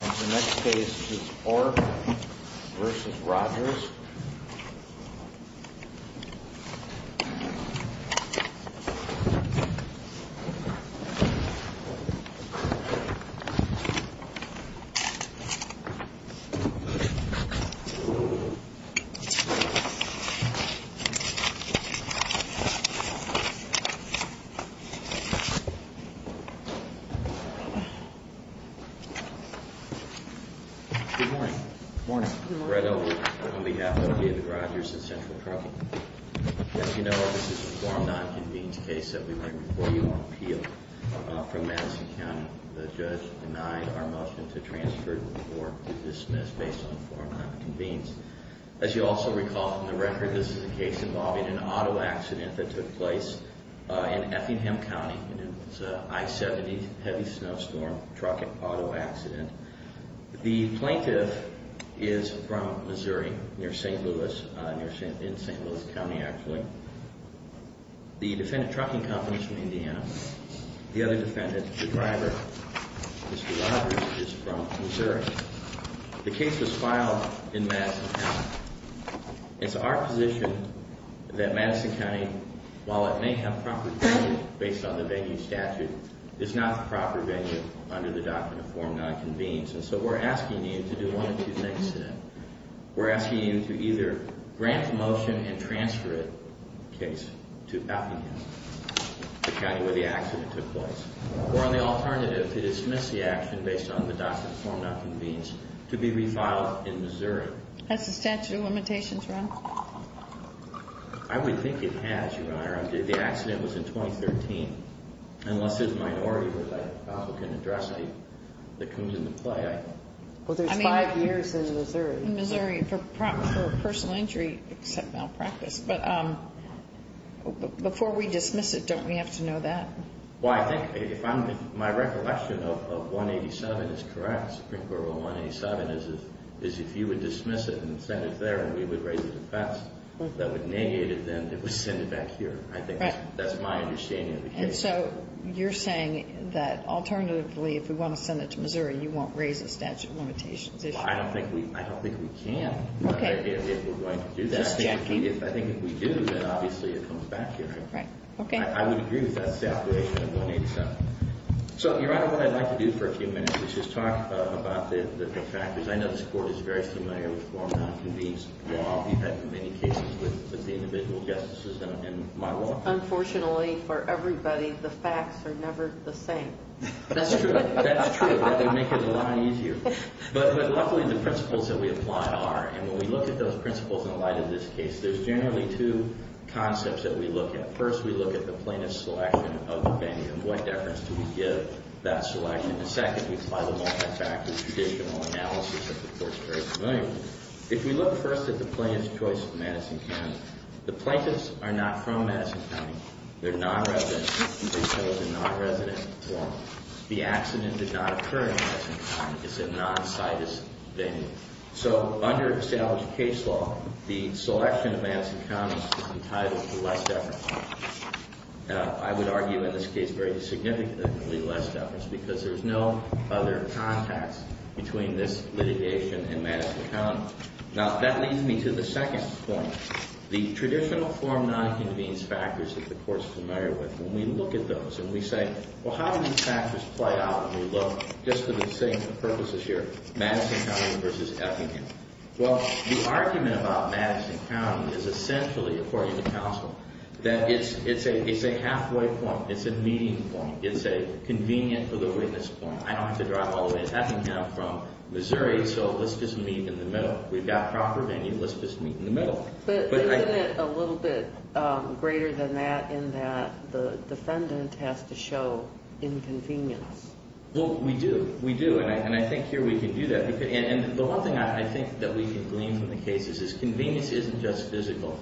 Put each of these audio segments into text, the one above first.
The next case is Orf v. Rogers. Good morning. Good morning. Brett Olick on behalf of Orf v. Rogers and Central Trucking. As you know, this is a forum non-convened case that we may report you on appeal from Madison County. The judge denied our motion to transfer the report to dismiss based on forum non-convened. As you also recall from the record, this is a case involving an auto accident that took place in Effingham County. It was an I-70 heavy snowstorm trucking auto accident. The plaintiff is from Missouri, near St. Louis, in St. Louis County actually. The defendant trucking company is from Indiana. The other defendant, the driver, Mr. Rogers, is from Missouri. The case was filed in Madison County. It's our position that Madison County, while it may have proper venue based on the venue statute, is not the proper venue under the doctrine of forum non-convened. And so we're asking you to do one of two things to that. We're asking you to either grant the motion and transfer it, the case, to Effingham, the county where the accident took place, or on the alternative, to dismiss the action based on the doctrine of forum non-convened to be refiled in Missouri. Has the statute of limitations run? I would think it has, Your Honor. The accident was in 2013. Unless there's a minority where the applicant addressed the coons in the play, I don't know. Well, there's five years in Missouri. In Missouri, for personal injury, except malpractice. But before we dismiss it, don't we have to know that? Well, I think if my recollection of 187 is correct, Supreme Court Rule 187, is if you would dismiss it and send it there and we would raise the defense, that would negate it, then it would send it back here. I think that's my understanding of the case. And so you're saying that alternatively, if we want to send it to Missouri, you won't raise the statute of limitations issue? I don't think we can. Okay. If we're going to do that. Just checking. I think if we do, then obviously it comes back here. Right. Okay. And I would agree with that separation of 187. So, Your Honor, what I'd like to do for a few minutes is just talk about the factors. I know this Court is very familiar with formal non-convened law. We've had many cases with the individual justices in my law. Unfortunately for everybody, the facts are never the same. That's true. That's true. That would make it a lot easier. But luckily, the principles that we apply are. And when we look at those principles in light of this case, there's generally two concepts that we look at. First, we look at the plaintiff's selection of the venue. And what deference do we give that selection? And second, we apply the multi-factor judicial analysis that the Court is very familiar with. If we look first at the plaintiff's choice of Madison County, the plaintiffs are not from Madison County. They're non-residents. And they chose a non-resident form. The accident did not occur in Madison County. It's a non-situs venue. So under established case law, the selection of Madison County is entitled to less deference. I would argue in this case very significantly less deference because there's no other context between this litigation and Madison County. Now, that leads me to the second point. The traditional form non-convenes factors that the Court is familiar with. When we look at those and we say, well, how do these factors play out when we look, just for the sake of purposes here, Madison County versus Effingham? Well, the argument about Madison County is essentially, according to counsel, that it's a halfway point. It's a meeting point. It's a convenient for the witness point. I don't have to drive all the way to Effingham from Missouri, so let's just meet in the middle. We've got proper venue. Let's just meet in the middle. But isn't it a little bit greater than that in that the defendant has to show inconvenience? Well, we do. We do, and I think here we can do that. And the one thing I think that we can glean from the case is convenience isn't just physical.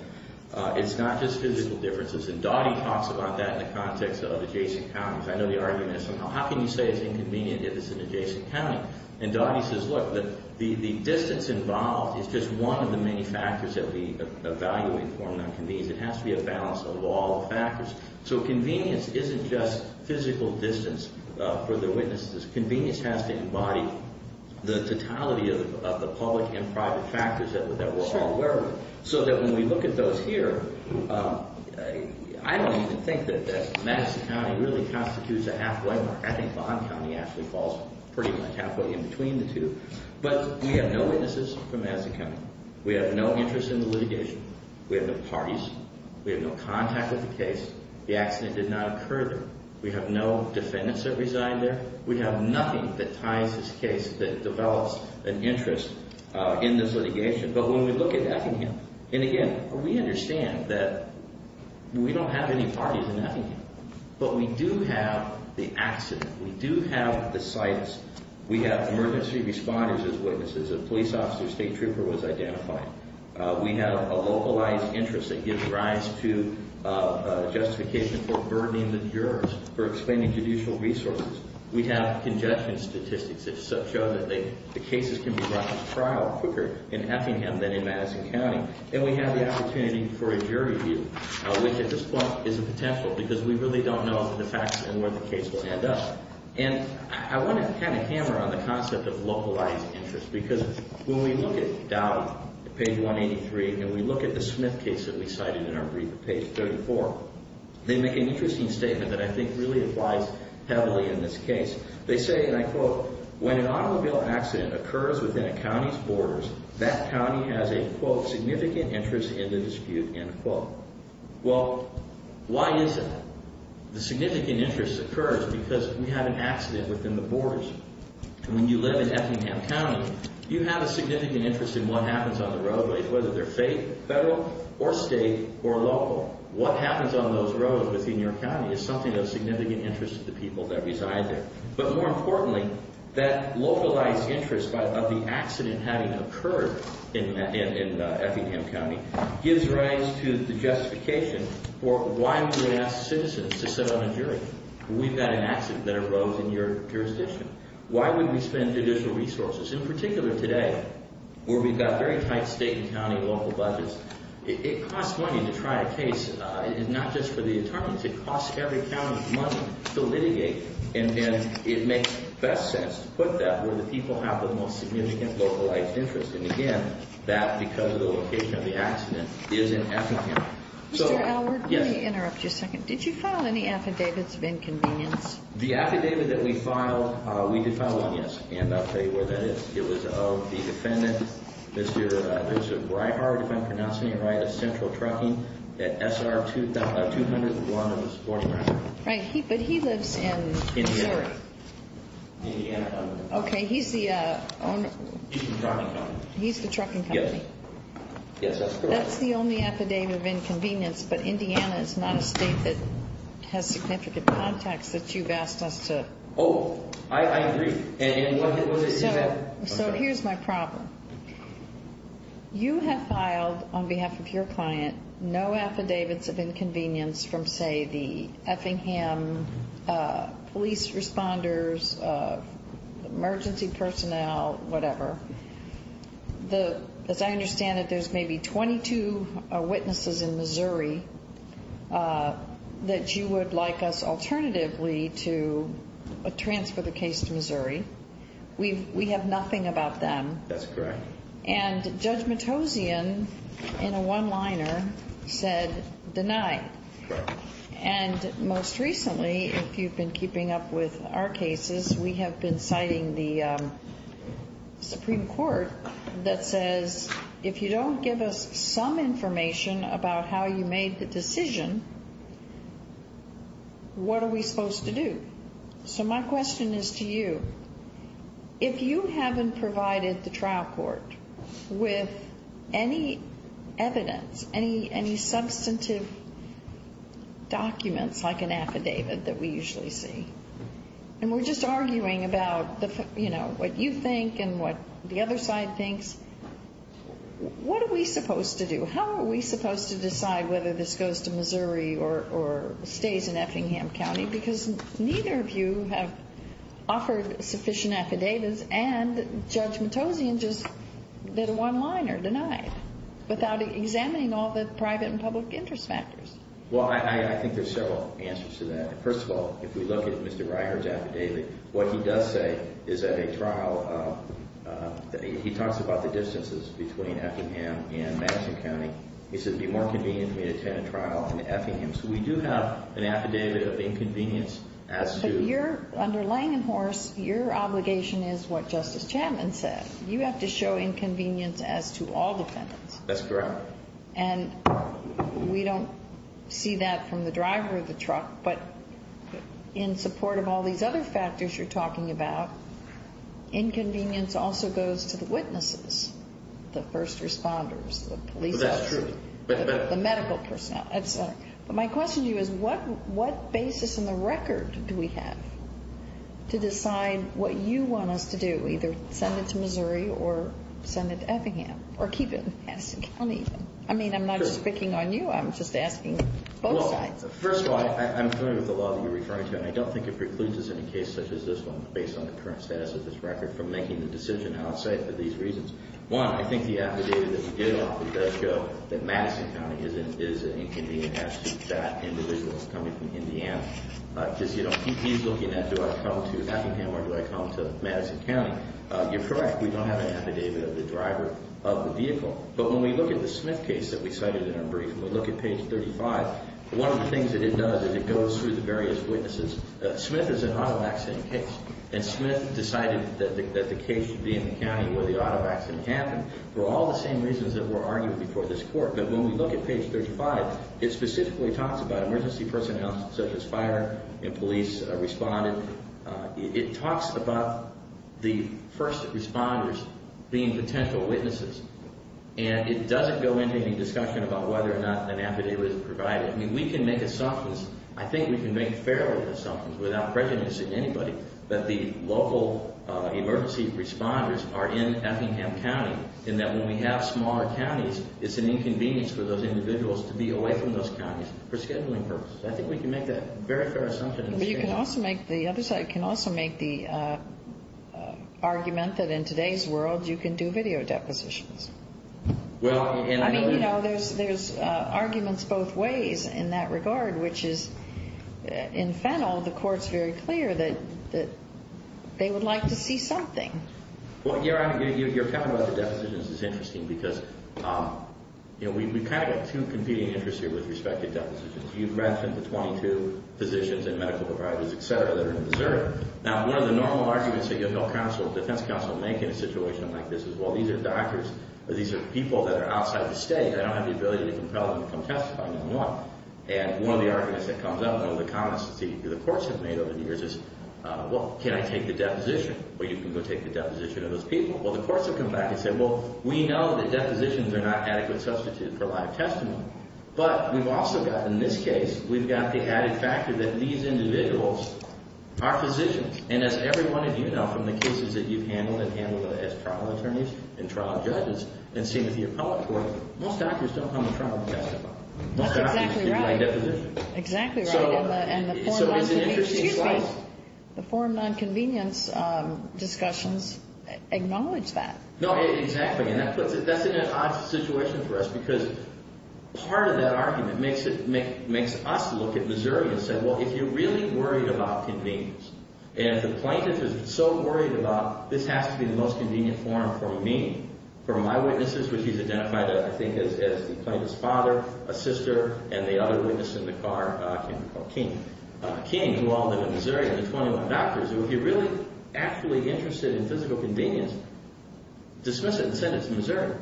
It's not just physical differences, and Dottie talks about that in the context of adjacent counties. I know the argument is somehow, how can you say it's inconvenient if it's an adjacent county? And Dottie says, look, the distance involved is just one of the many factors that we evaluate for an inconvenience. It has to be a balance of all the factors. So convenience isn't just physical distance for the witnesses. Convenience has to embody the totality of the public and private factors that we're all aware of, so that when we look at those here, I don't even think that Madison County really constitutes a halfway point. I think Bonn County actually falls pretty much halfway in between the two. But we have no witnesses from Madison County. We have no interest in the litigation. We have no parties. We have no contact with the case. The accident did not occur there. We have no defendants that resigned there. We have nothing that ties this case that develops an interest in this litigation. But when we look at Effingham, and again, we understand that we don't have any parties in Effingham, but we do have the accident. We do have the sites. We have emergency responders as witnesses. A police officer, a state trooper was identified. We have a localized interest that gives rise to justification for burdening the jurors for explaining judicial resources. We have conjecture statistics that show that the cases can be brought to trial quicker in Effingham than in Madison County. And we have the opportunity for a jury view, which at this point is a potential because we really don't know the facts and where the case will end up. And I want to kind of hammer on the concept of localized interest because when we look at Dow, page 183, and we look at the Smith case that we cited in our brief at page 34, they make an interesting statement that I think really applies heavily in this case. They say, and I quote, when an automobile accident occurs within a county's borders, that county has a, quote, significant interest in the dispute, end quote. Well, why is that? The significant interest occurs because we had an accident within the borders. And when you live in Effingham County, you have a significant interest in what happens on the roadways, whether they're federal or state or local. What happens on those roads within your county is something of significant interest to the people that reside there. But more importantly, that localized interest of the accident having occurred in Effingham County gives rise to the justification for why would we ask citizens to sit on a jury? We've got an accident that arose in your jurisdiction. Why would we spend additional resources? In particular today, where we've got very tight state and county local budgets, it costs money to try a case. It's not just for the attorneys. It costs every county money to litigate. And it makes best sense to put that where the people have the most significant localized interest. And, again, that because of the location of the accident is in Effingham. Mr. Alward, let me interrupt you a second. Did you file any affidavits of inconvenience? The affidavit that we filed, we did file one, yes. And I'll tell you where that is. It was of the defendant, Mr. Reinhardt, if I'm pronouncing it right, of Central Trucking at SR 200, the one on the left. Right. But he lives in Missouri. Indiana County. Okay. He's the owner. He's the trucking company. He's the trucking company. Yes. Yes, that's correct. That's the only affidavit of inconvenience. But Indiana is not a state that has significant contacts that you've asked us to. Oh, I agree. So here's my problem. You have filed on behalf of your client no affidavits of inconvenience from, say, the Effingham police responders, emergency personnel, whatever. As I understand it, there's maybe 22 witnesses in Missouri that you would like us alternatively to transfer the case to Missouri. We have nothing about them. That's correct. And Judge Matossian, in a one-liner, said deny. Correct. And most recently, if you've been keeping up with our cases, we have been citing the Supreme Court that says, if you don't give us some information about how you made the decision, what are we supposed to do? So my question is to you. If you haven't provided the trial court with any evidence, any substantive documents like an affidavit that we usually see, and we're just arguing about what you think and what the other side thinks, what are we supposed to do? How are we supposed to decide whether this goes to Missouri or stays in Effingham County? Because neither of you have offered sufficient affidavits, and Judge Matossian just did a one-liner, denied, without examining all the private and public interest factors. Well, I think there's several answers to that. First of all, if we look at Mr. Ryher's affidavit, what he does say is at a trial, he talks about the distances between Effingham and Madison County. He says, it would be more convenient for me to attend a trial in Effingham. So we do have an affidavit of inconvenience as to— But you're—under Langenhorst, your obligation is what Justice Chapman said. You have to show inconvenience as to all defendants. That's correct. And we don't see that from the driver of the truck, but in support of all these other factors you're talking about, inconvenience also goes to the witnesses, the first responders, the police officers— But that's true. The medical personnel. That's right. But my question to you is, what basis in the record do we have to decide what you want us to do, either send it to Missouri or send it to Effingham or keep it in Madison County? I mean, I'm not just picking on you. I'm just asking both sides. Well, first of all, I'm familiar with the law that you're referring to, and I don't think it precludes us in a case such as this one, based on the current status of this record, from making the decision outside for these reasons. One, I think the affidavit that we did offer does show that Madison County is an inconvenience as to that individual coming from Indiana, because he's looking at, do I come to Effingham or do I come to Madison County? You're correct. We don't have an affidavit of the driver of the vehicle. But when we look at the Smith case that we cited in our brief, and we look at page 35, one of the things that it does is it goes through the various witnesses. Smith is an auto accident case, and Smith decided that the case should be in the county where the auto accident happened for all the same reasons that were argued before this court. But when we look at page 35, it specifically talks about emergency personnel such as fire and police responding. It talks about the first responders being potential witnesses, and it doesn't go into any discussion about whether or not an affidavit is provided. I mean, we can make assumptions. We can make the assumption that the local emergency responders are in Effingham County, and that when we have smaller counties, it's an inconvenience for those individuals to be away from those counties for scheduling purposes. I think we can make that very fair assumption. But you can also make the other side can also make the argument that in today's world, you can do video depositions. I mean, you know, there's arguments both ways in that regard, which is in Fennel, the court's very clear that they would like to see something. Well, Your Honor, your comment about the depositions is interesting because, you know, we've kind of got two competing interests here with respect to depositions. You've read from the 22 physicians and medical providers, et cetera, that are in Missouri. Now, one of the normal arguments that you'll tell counsel, defense counsel, to make in a situation like this is, well, these are doctors, or these are people that are outside of the state. They don't have the ability to compel them to come testify. And one of the arguments that comes up, one of the comments that the courts have made over the years is, well, can I take the deposition? Well, you can go take the deposition of those people. Well, the courts have come back and said, well, we know that depositions are not adequate substitutes for live testimony. But we've also got, in this case, we've got the added factor that these individuals are physicians. And as every one of you know from the cases that you've handled and handled as trial attorneys and trial judges and seen with the appellate court, most doctors don't come to trial to testify. Most doctors do by deposition. That's exactly right. Exactly right. So it's an interesting slide. Excuse me. The forum nonconvenience discussions acknowledge that. No, exactly. And that puts us in an odd situation for us because part of that argument makes us look at Missouri and say, well, if you're really worried about convenience and if the plaintiff is so worried about this has to be the most convenient forum for me, for my witnesses, which he's identified, I think, as the plaintiff's father, a sister, and the other witness in the car can be called King. King, who all live in Missouri, of the 21 doctors, if you're really actually interested in physical convenience, dismiss it and send it to Missouri.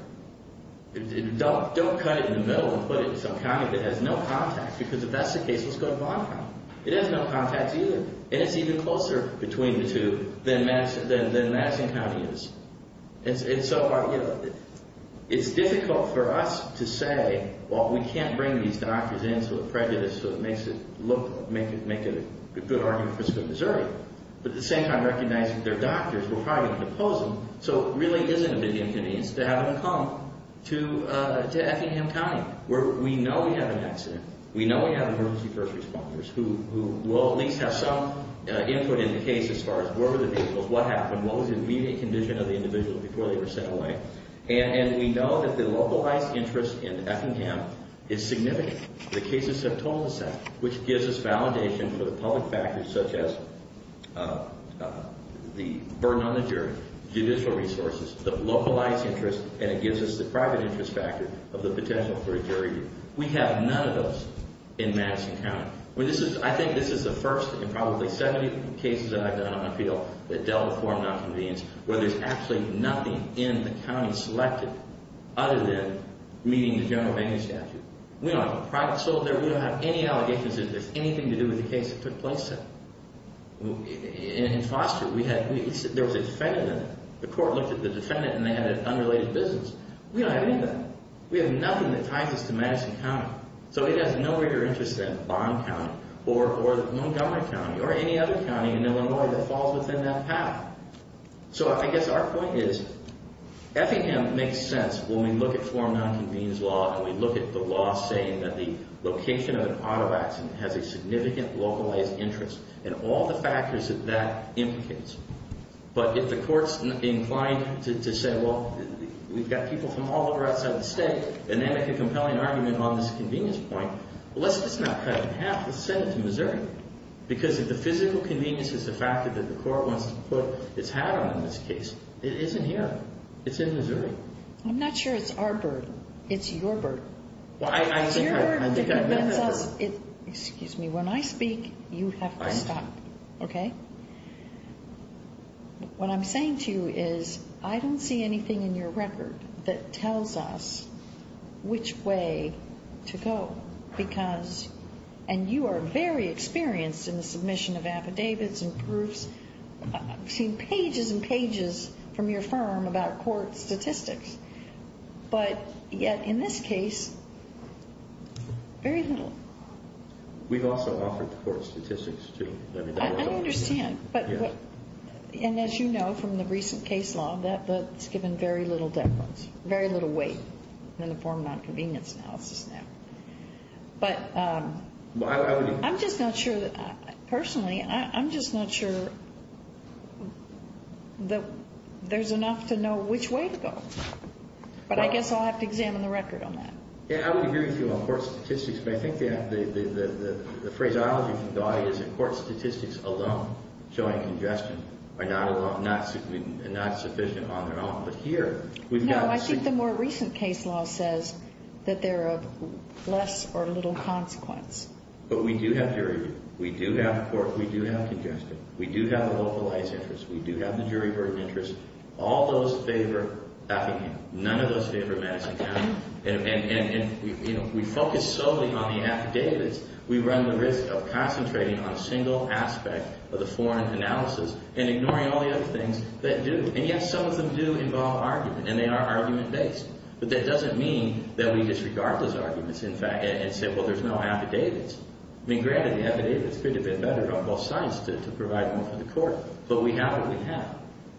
Don't cut it in the middle and put it in some county that has no contacts because if that's the case, let's go to Vaughn County. It has no contacts either. And it's even closer between the two than Madison County is. And so it's difficult for us to say, well, we can't bring these doctors in so it prejudices, so it makes it look, make it a good argument for us to go to Missouri, but at the same time recognize that they're doctors. We're probably going to depose them. So it really isn't a big inconvenience to have them come to Effingham County. We know we have an accident. We know we have emergency first responders who will at least have some input in the case as far as where were the vehicles, what happened, what was the immediate condition of the individual before they were sent away. And we know that the localized interest in Effingham is significant. The cases have totaled the same, which gives us validation for the public factors such as the burden on the jury, judicial resources, the localized interest, and it gives us the private interest factor of the potential for a jury. We have none of those in Madison County. I think this is the first in probably 70 cases that I've done on appeal that dealt with foreign nonconvenience where there's actually nothing in the county selected other than meeting the general banning statute. We don't have a private soul there. We don't have any allegations that there's anything to do with the case that took place there. In Foster, there was a defendant in it. The court looked at the defendant and they had an unrelated business. We don't have any of that. We have nothing that ties us to Madison County. So it has no greater interest than Bond County or Montgomery County or any other county in Illinois that falls within that path. So I guess our point is Effingham makes sense when we look at foreign nonconvenience law and we look at the law saying that the location of an auto accident has a significant localized interest and all the factors that that implicates. But if the court's inclined to say, well, we've got people from all over outside the state, and they make a compelling argument on this convenience point, let's just not cut it in half. Let's send it to Missouri. Because if the physical convenience is the factor that the court wants to put its hat on in this case, it isn't here. It's in Missouri. I'm not sure it's our burden. It's your burden. Well, I think I've met that burden. Excuse me. When I speak, you have to stop. Okay? What I'm saying to you is I don't see anything in your record that tells us which way to go. Because, and you are very experienced in the submission of affidavits and proofs. I've seen pages and pages from your firm about court statistics. But yet in this case, very little. We've also offered the court statistics too. I understand. And as you know from the recent case law, that's given very little weight in the form of nonconvenience analysis now. But I'm just not sure, personally, I'm just not sure that there's enough to know which way to go. But I guess I'll have to examine the record on that. Yeah, I would agree with you on court statistics. But I think the phraseology from Gaudi is that court statistics alone, showing congestion, are not sufficient on their own. But here, we've got— No, I think the more recent case law says that they're of less or little consequence. But we do have jury. We do have court. We do have congestion. We do have a localized interest. We do have the jury burden interest. All those favor backing down. None of those favor maxing out. And we focus solely on the affidavits. We run the risk of concentrating on a single aspect of the foreign analysis and ignoring all the other things that do. And yes, some of them do involve argument, and they are argument-based. But that doesn't mean that we disregard those arguments, in fact, and say, well, there's no affidavits. I mean, granted, the affidavits could have been better on both sides to provide more for the court. But we have what we have.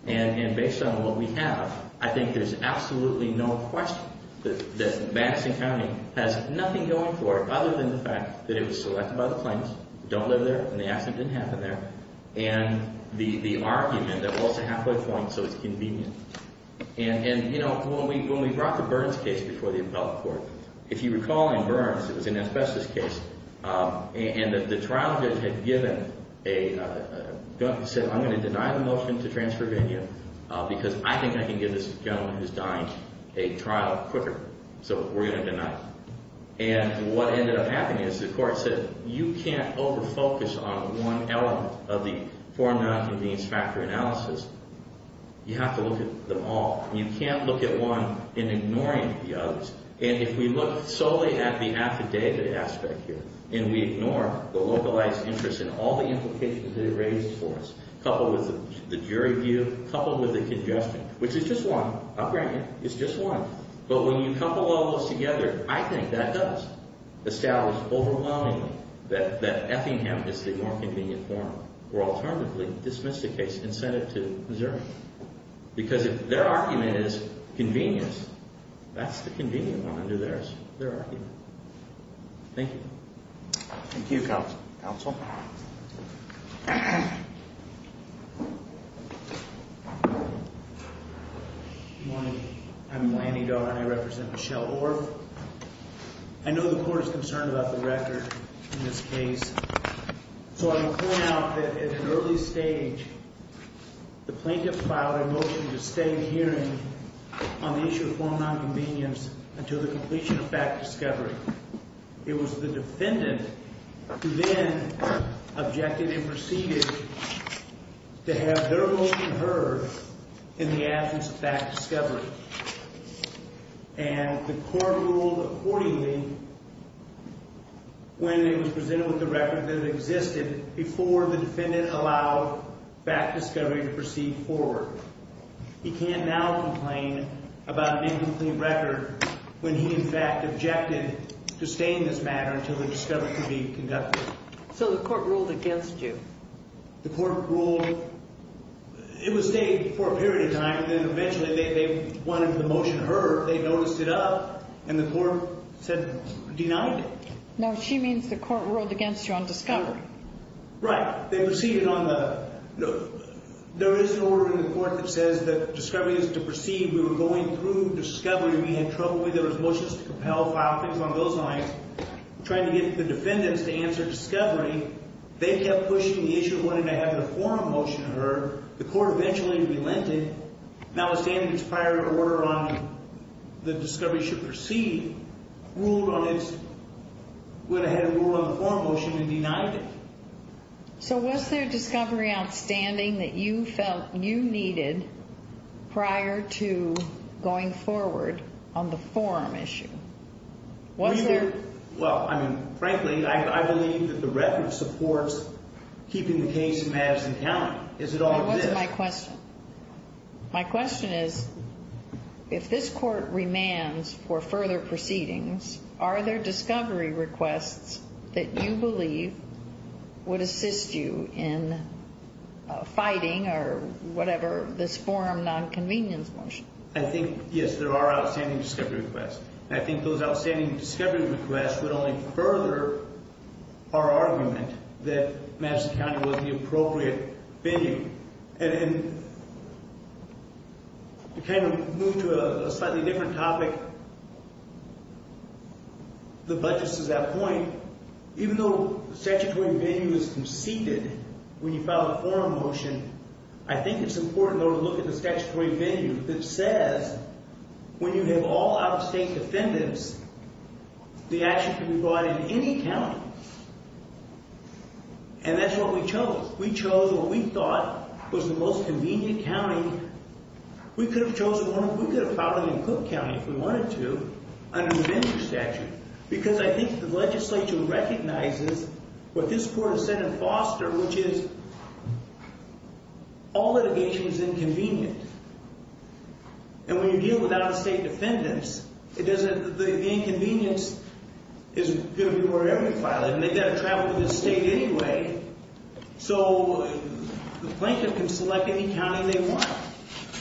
And based on what we have, I think there's absolutely no question that Madison County has nothing going for it, other than the fact that it was selected by the plaintiffs, don't live there, and the accident didn't happen there, and the argument that was a halfway point, so it's convenient. And, you know, when we brought the Burns case before the appellate court, if you recall in Burns, it was an asbestos case, and the trial judge had given a gun and said, I'm going to deny the motion to transcribine you because I think I can give this gentleman who's dying a trial quicker. So we're going to deny it. And what ended up happening is the court said, you can't overfocus on one element of the foreign nonconvenience factor analysis. You have to look at them all. You can't look at one and ignoring the others. And if we look solely at the affidavit aspect here, and we ignore the localized interest in all the implications that it raises for us, coupled with the jury view, coupled with the congestion, which is just one, I'll grant you, it's just one. But when you couple all those together, I think that does establish overwhelmingly that Effingham is the nonconvenient form, or alternatively, dismiss the case and send it to Missouri. Because if their argument is convenience, that's the convenient one under theirs, their argument. Thank you. Thank you, counsel. Counsel. Good morning. I'm Lanny Doe, and I represent Michelle Orff. I know the court is concerned about the record in this case. So I'm going to point out that at an early stage, the plaintiff filed a motion to stay the hearing on the issue of foreign nonconvenience until the completion of fact discovery. It was the defendant who then objected and proceeded to have their motion heard in the absence of fact discovery. And the court ruled accordingly when it was presented with the record that it existed before the defendant allowed fact discovery to proceed forward. He can't now complain about an incomplete record when he, in fact, objected to staying this matter until the discovery could be conducted. So the court ruled against you? The court ruled it would stay for a period of time, and then eventually they wanted the motion heard. They noticed it up, and the court said denied it. No, she means the court ruled against you on discovery. Right. They proceeded on the – there is an order in the court that says that discovery is to proceed. We were going through discovery. We had trouble with it. It was motions to compel, file things on those lines, trying to get the defendants to answer discovery. They kept pushing the issue of wanting to have the forum motion heard. The court eventually relented, notwithstanding its prior order on the discovery should proceed, ruled on its – went ahead and ruled on the forum motion and denied it. So was there discovery outstanding that you felt you needed prior to going forward on the forum issue? Was there – Well, I mean, frankly, I believe that the record supports keeping the case in Madison County. Is it all of this? That wasn't my question. My question is if this court remands for further proceedings, are there discovery requests that you believe would assist you in fighting or whatever this forum nonconvenience motion? I think, yes, there are outstanding discovery requests. And I think those outstanding discovery requests would only further our argument that Madison County wasn't the appropriate venue. And to kind of move to a slightly different topic, the budget says at that point, even though statutory venue is conceded when you file a forum motion, I think it's important, though, to look at the statutory venue that says when you have all out-of-state defendants, the action can be brought in any county. And that's what we chose. We chose what we thought was the most convenient county. We could have chosen – we could have filed it in Cook County if we wanted to under the vendor statute because I think the legislature recognizes what this court has said in Foster, which is all litigation is inconvenient. And when you deal with out-of-state defendants, it doesn't – the inconvenience is going to be wherever you file it. And they've got to travel to the state anyway, so the plaintiff can select any county they want.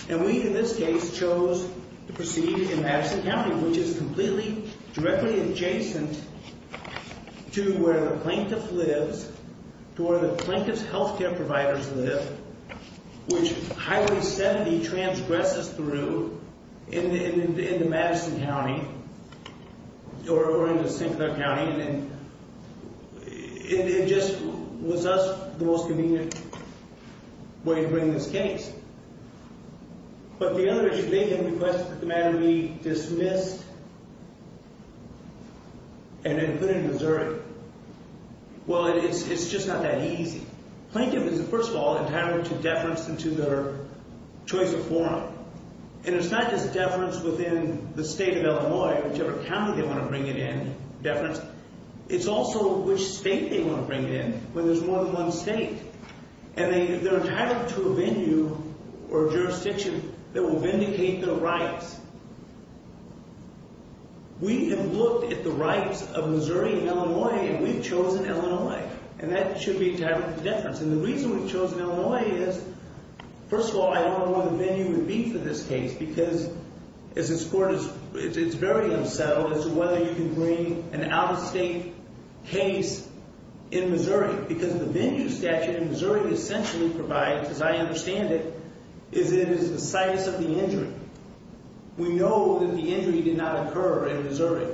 And we, in this case, chose to proceed in Madison County, which is completely – directly adjacent to where the plaintiff lives, to where the plaintiff's health care providers live, which Highway 70 transgresses through in the Madison County or in the St. Clair County. And it just was us – the most convenient way to bring this case. But the other – they can request that the matter be dismissed and included in Missouri. Well, it's just not that easy. Plaintiff is, first of all, entitled to deference into their choice of forum. And it's not just deference within the state of Illinois or whichever county they want to bring it in, deference. It's also which state they want to bring it in when there's more than one state. And they're entitled to a venue or a jurisdiction that will vindicate their rights. We have looked at the rights of Missouri and Illinois, and we've chosen Illinois. And that should be directly deference. And the reason we've chosen Illinois is, first of all, I don't know what the venue would be for this case because as this court is – it's very unsettled as to whether you can bring an out-of-state case in Missouri. Because the venue statute in Missouri essentially provides, as I understand it, is it is the size of the injury. We know that the injury did not occur in Missouri.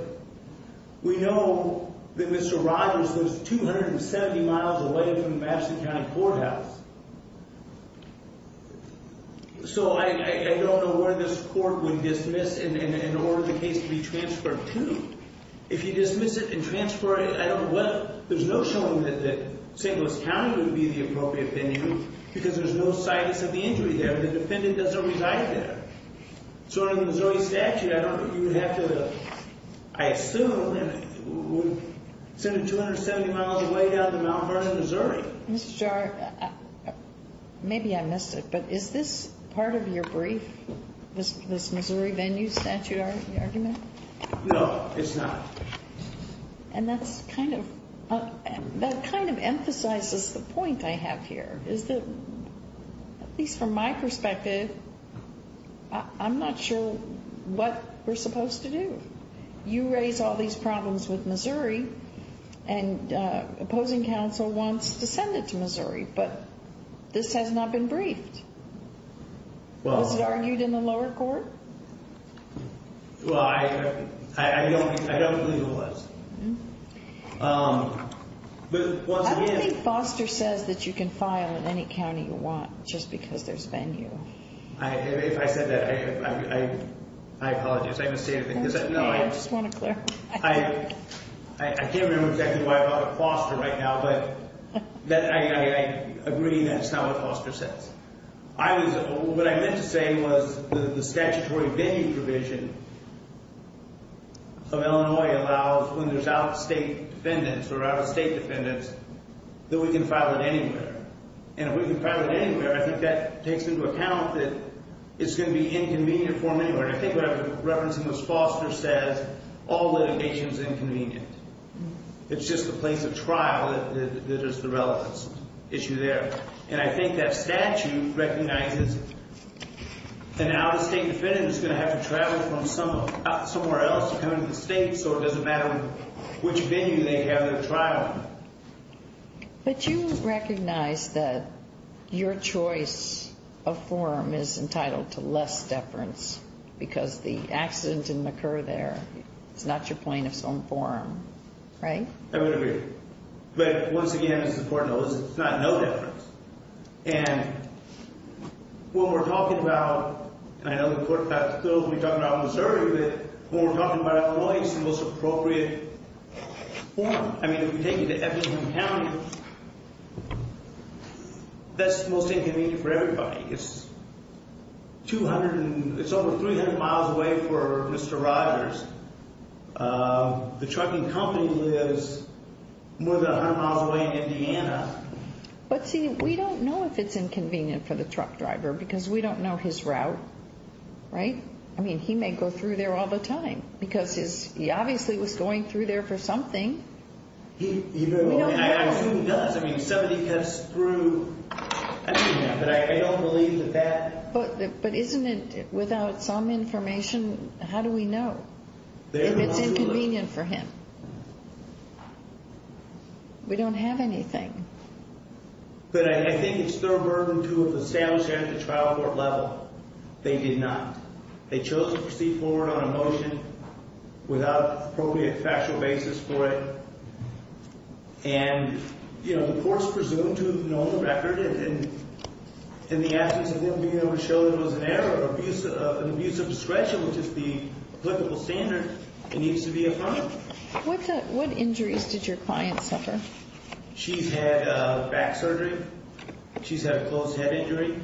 We know that Mr. Rogers lives 270 miles away from the Madison County Courthouse. So I don't know where this court would dismiss in order for the case to be transferred to. If you dismiss it and transfer it, I don't know whether – there's no showing that St. Louis County would be the appropriate venue because there's no situs of the injury there. The defendant doesn't reside there. So under the Missouri statute, I don't – you would have to – I assume it would send it 270 miles away down to Mount Vernon, Missouri. Ms. Jarre, maybe I missed it, but is this part of your brief, this Missouri venue statute argument? No, it's not. And that's kind of – that kind of emphasizes the point I have here. Is that, at least from my perspective, I'm not sure what we're supposed to do. You raise all these problems with Missouri, and opposing counsel wants to send it to Missouri, but this has not been briefed. Was it argued in the lower court? Well, I don't believe it was. But once again – I don't think Foster says that you can file in any county you want just because there's venue. If I said that, I apologize. I didn't say anything. I just want to clarify. I can't remember exactly why I brought up Foster right now, but I agree that's not what Foster says. What I meant to say was the statutory venue provision of Illinois allows when there's out-of-state defendants, or out-of-state defendants, that we can file it anywhere. And if we can file it anywhere, I think that takes into account that it's going to be inconvenient for them anywhere. And I think what I was referencing was Foster says all litigation is inconvenient. It's just the place of trial that is the relevance issue there. And I think that statute recognizes an out-of-state defendant is going to have to travel from somewhere else to come into the state, so it doesn't matter which venue they have their trial in. But you recognize that your choice of forum is entitled to less deference because the accident didn't occur there. It's not your plaintiff's own forum, right? I would agree. But once again, it's important to know it's not no deference. And what we're talking about, and I know the Court passed a bill that we talked about in Missouri, but when we're talking about Illinois, it's the most appropriate forum. I mean, if you take it to Eppington County, that's the most inconvenient for everybody. It's over 300 miles away for Mr. Riders. The trucking company lives more than 100 miles away in Indiana. But see, we don't know if it's inconvenient for the truck driver because we don't know his route, right? I mean, he may go through there all the time because he obviously was going through there for something. I assume he does. I mean, somebody cuts through. I don't know, but I don't believe that that. But isn't it without some information? How do we know if it's inconvenient for him? We don't have anything. But I think it's their burden to have established that at the trial court level. They did not. They chose to proceed forward on a motion without appropriate factual basis for it. And, you know, the court's presumed to have known the record, and the absence of him being able to show there was an error, an abuse of discretion, which is the applicable standard, it needs to be affirmed. What injuries did your client suffer? She's had back surgery. She's had a closed head injury.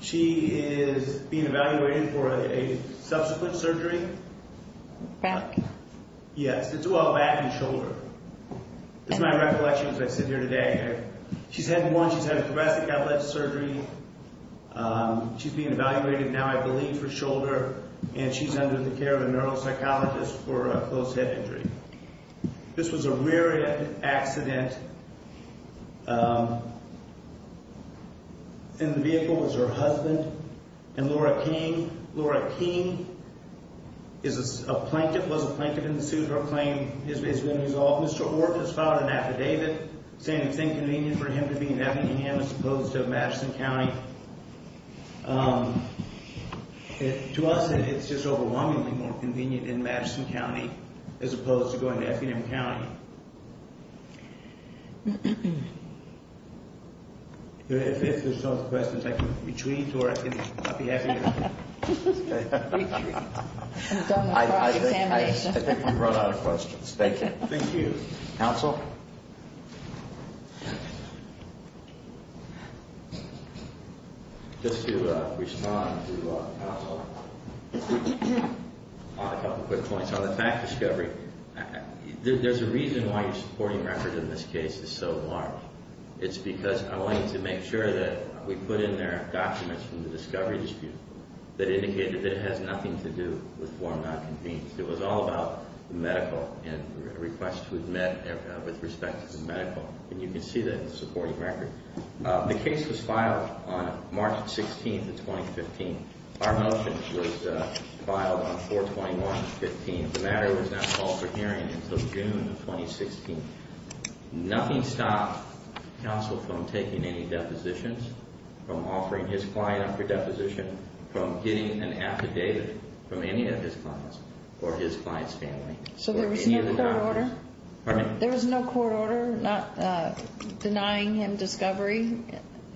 She is being evaluated for a subsequent surgery. Back? Yes, it's all back and shoulder. It's my recollection as I sit here today. She's had one. She's had a thoracic outlet surgery. She's being evaluated now, I believe, for shoulder, and she's under the care of a neuropsychologist for a closed head injury. This was a rear-end accident. In the vehicle was her husband and Laura King. Laura King is a plaintiff, was a plaintiff in the suit. Her claim has been resolved. Mr. Orr has filed an affidavit saying it's inconvenient for him to be in Effingham as opposed to Madison County. To us, it's just overwhelmingly more convenient in Madison County as opposed to going to Effingham County. If there's no questions, I can retreat or I'll be happy to stay. I think we've run out of questions. Thank you. Thank you. Counsel? Just to respond to counsel on a couple quick points. On the fact discovery, there's a reason why your supporting record in this case is so large. It's because I wanted to make sure that we put in there documents from the discovery dispute that indicated that it has nothing to do with why I'm not convened. It was all about the medical and requests we've met with respect to the medical, and you can see that in the supporting record. The case was filed on March 16th of 2015. Our motion was filed on 4-21-15. The matter was not called for hearing until June of 2016. Nothing stopped counsel from taking any depositions, from offering his client up for deposition, from getting an affidavit from any of his clients or his client's family. So there was no court order? Pardon me? There was no court order denying him discovery?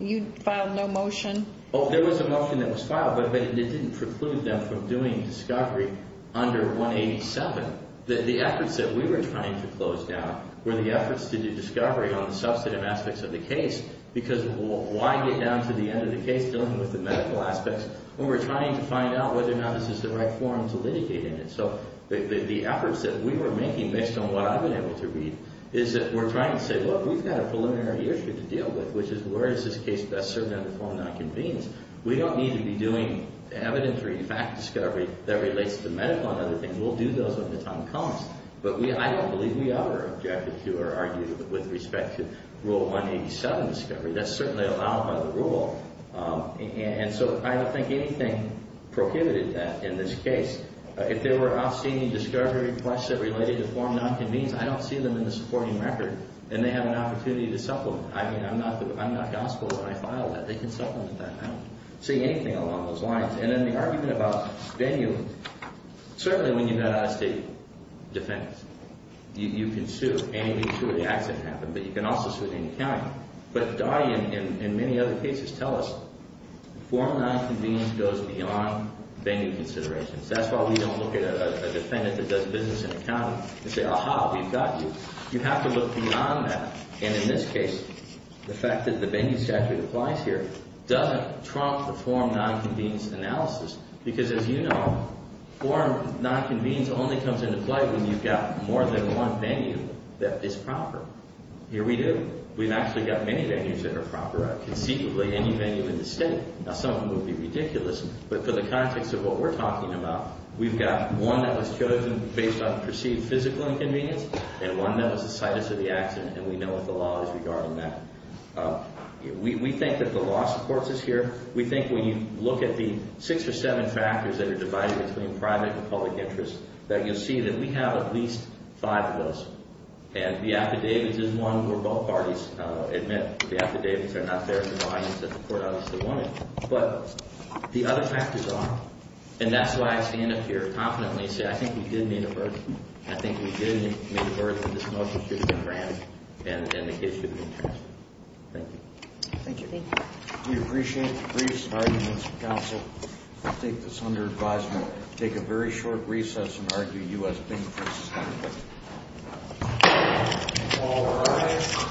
You filed no motion? Oh, there was a motion that was filed, but it didn't preclude them from doing discovery under 187. The efforts that we were trying to close down were the efforts to do discovery on the substantive aspects of the case, because why get down to the end of the case dealing with the medical aspects when we're trying to find out whether or not this is the right forum to litigate in it. So the efforts that we were making based on what I've been able to read is that we're trying to say, look, we've got a preliminary issue to deal with, which is where is this case best served under form of nonconvenience. We don't need to be doing evidentiary fact discovery that relates to medical and other things. We'll do those when the time comes. But I don't believe we are objecting to or arguing with respect to rule 187 discovery. That's certainly allowed by the rule. And so I don't think anything prohibited that in this case. If there were obscene discovery requests that related to form of nonconvenience, I don't see them in the supporting record, and they have an opportunity to supplement. I mean, I'm not gospel when I file that. They can supplement that. I don't see anything along those lines. And then the argument about venue, certainly when you've got out-of-state defense, you can sue, and you can sue if the accident happened, but you can also sue in any county. But I, in many other cases, tell us form of nonconvenience goes beyond venue considerations. That's why we don't look at a defendant that does business in a county and say, aha, we've got you. You have to look beyond that. And in this case, the fact that the venue statute applies here doesn't trump the form of nonconvenience analysis. Because as you know, form of nonconvenience only comes into play when you've got more than one venue that is proper. Here we do. We've actually got many venues that are proper. Conceivably, any venue in the state. Now, some of them would be ridiculous, but for the context of what we're talking about, we've got one that was chosen based on perceived physical inconvenience and one that was the site of the accident, and we know what the law is regarding that. We think that the law supports us here. We think when you look at the six or seven factors that are divided between private and public interest, that you'll see that we have at least five of those. And the affidavits is one where both parties admit the affidavits are not there to the audience that the court honestly wanted. But the other factors are. And that's why I stand up here confidently and say, I think we did meet a burden. I think we did meet a burden. This motion should have been ran and the case should have been transferred. Thank you. Thank you. We appreciate the briefs and arguments. Counsel, I take this under advisement to take a very short recess and argue U.S. v. Mississippi. All rise.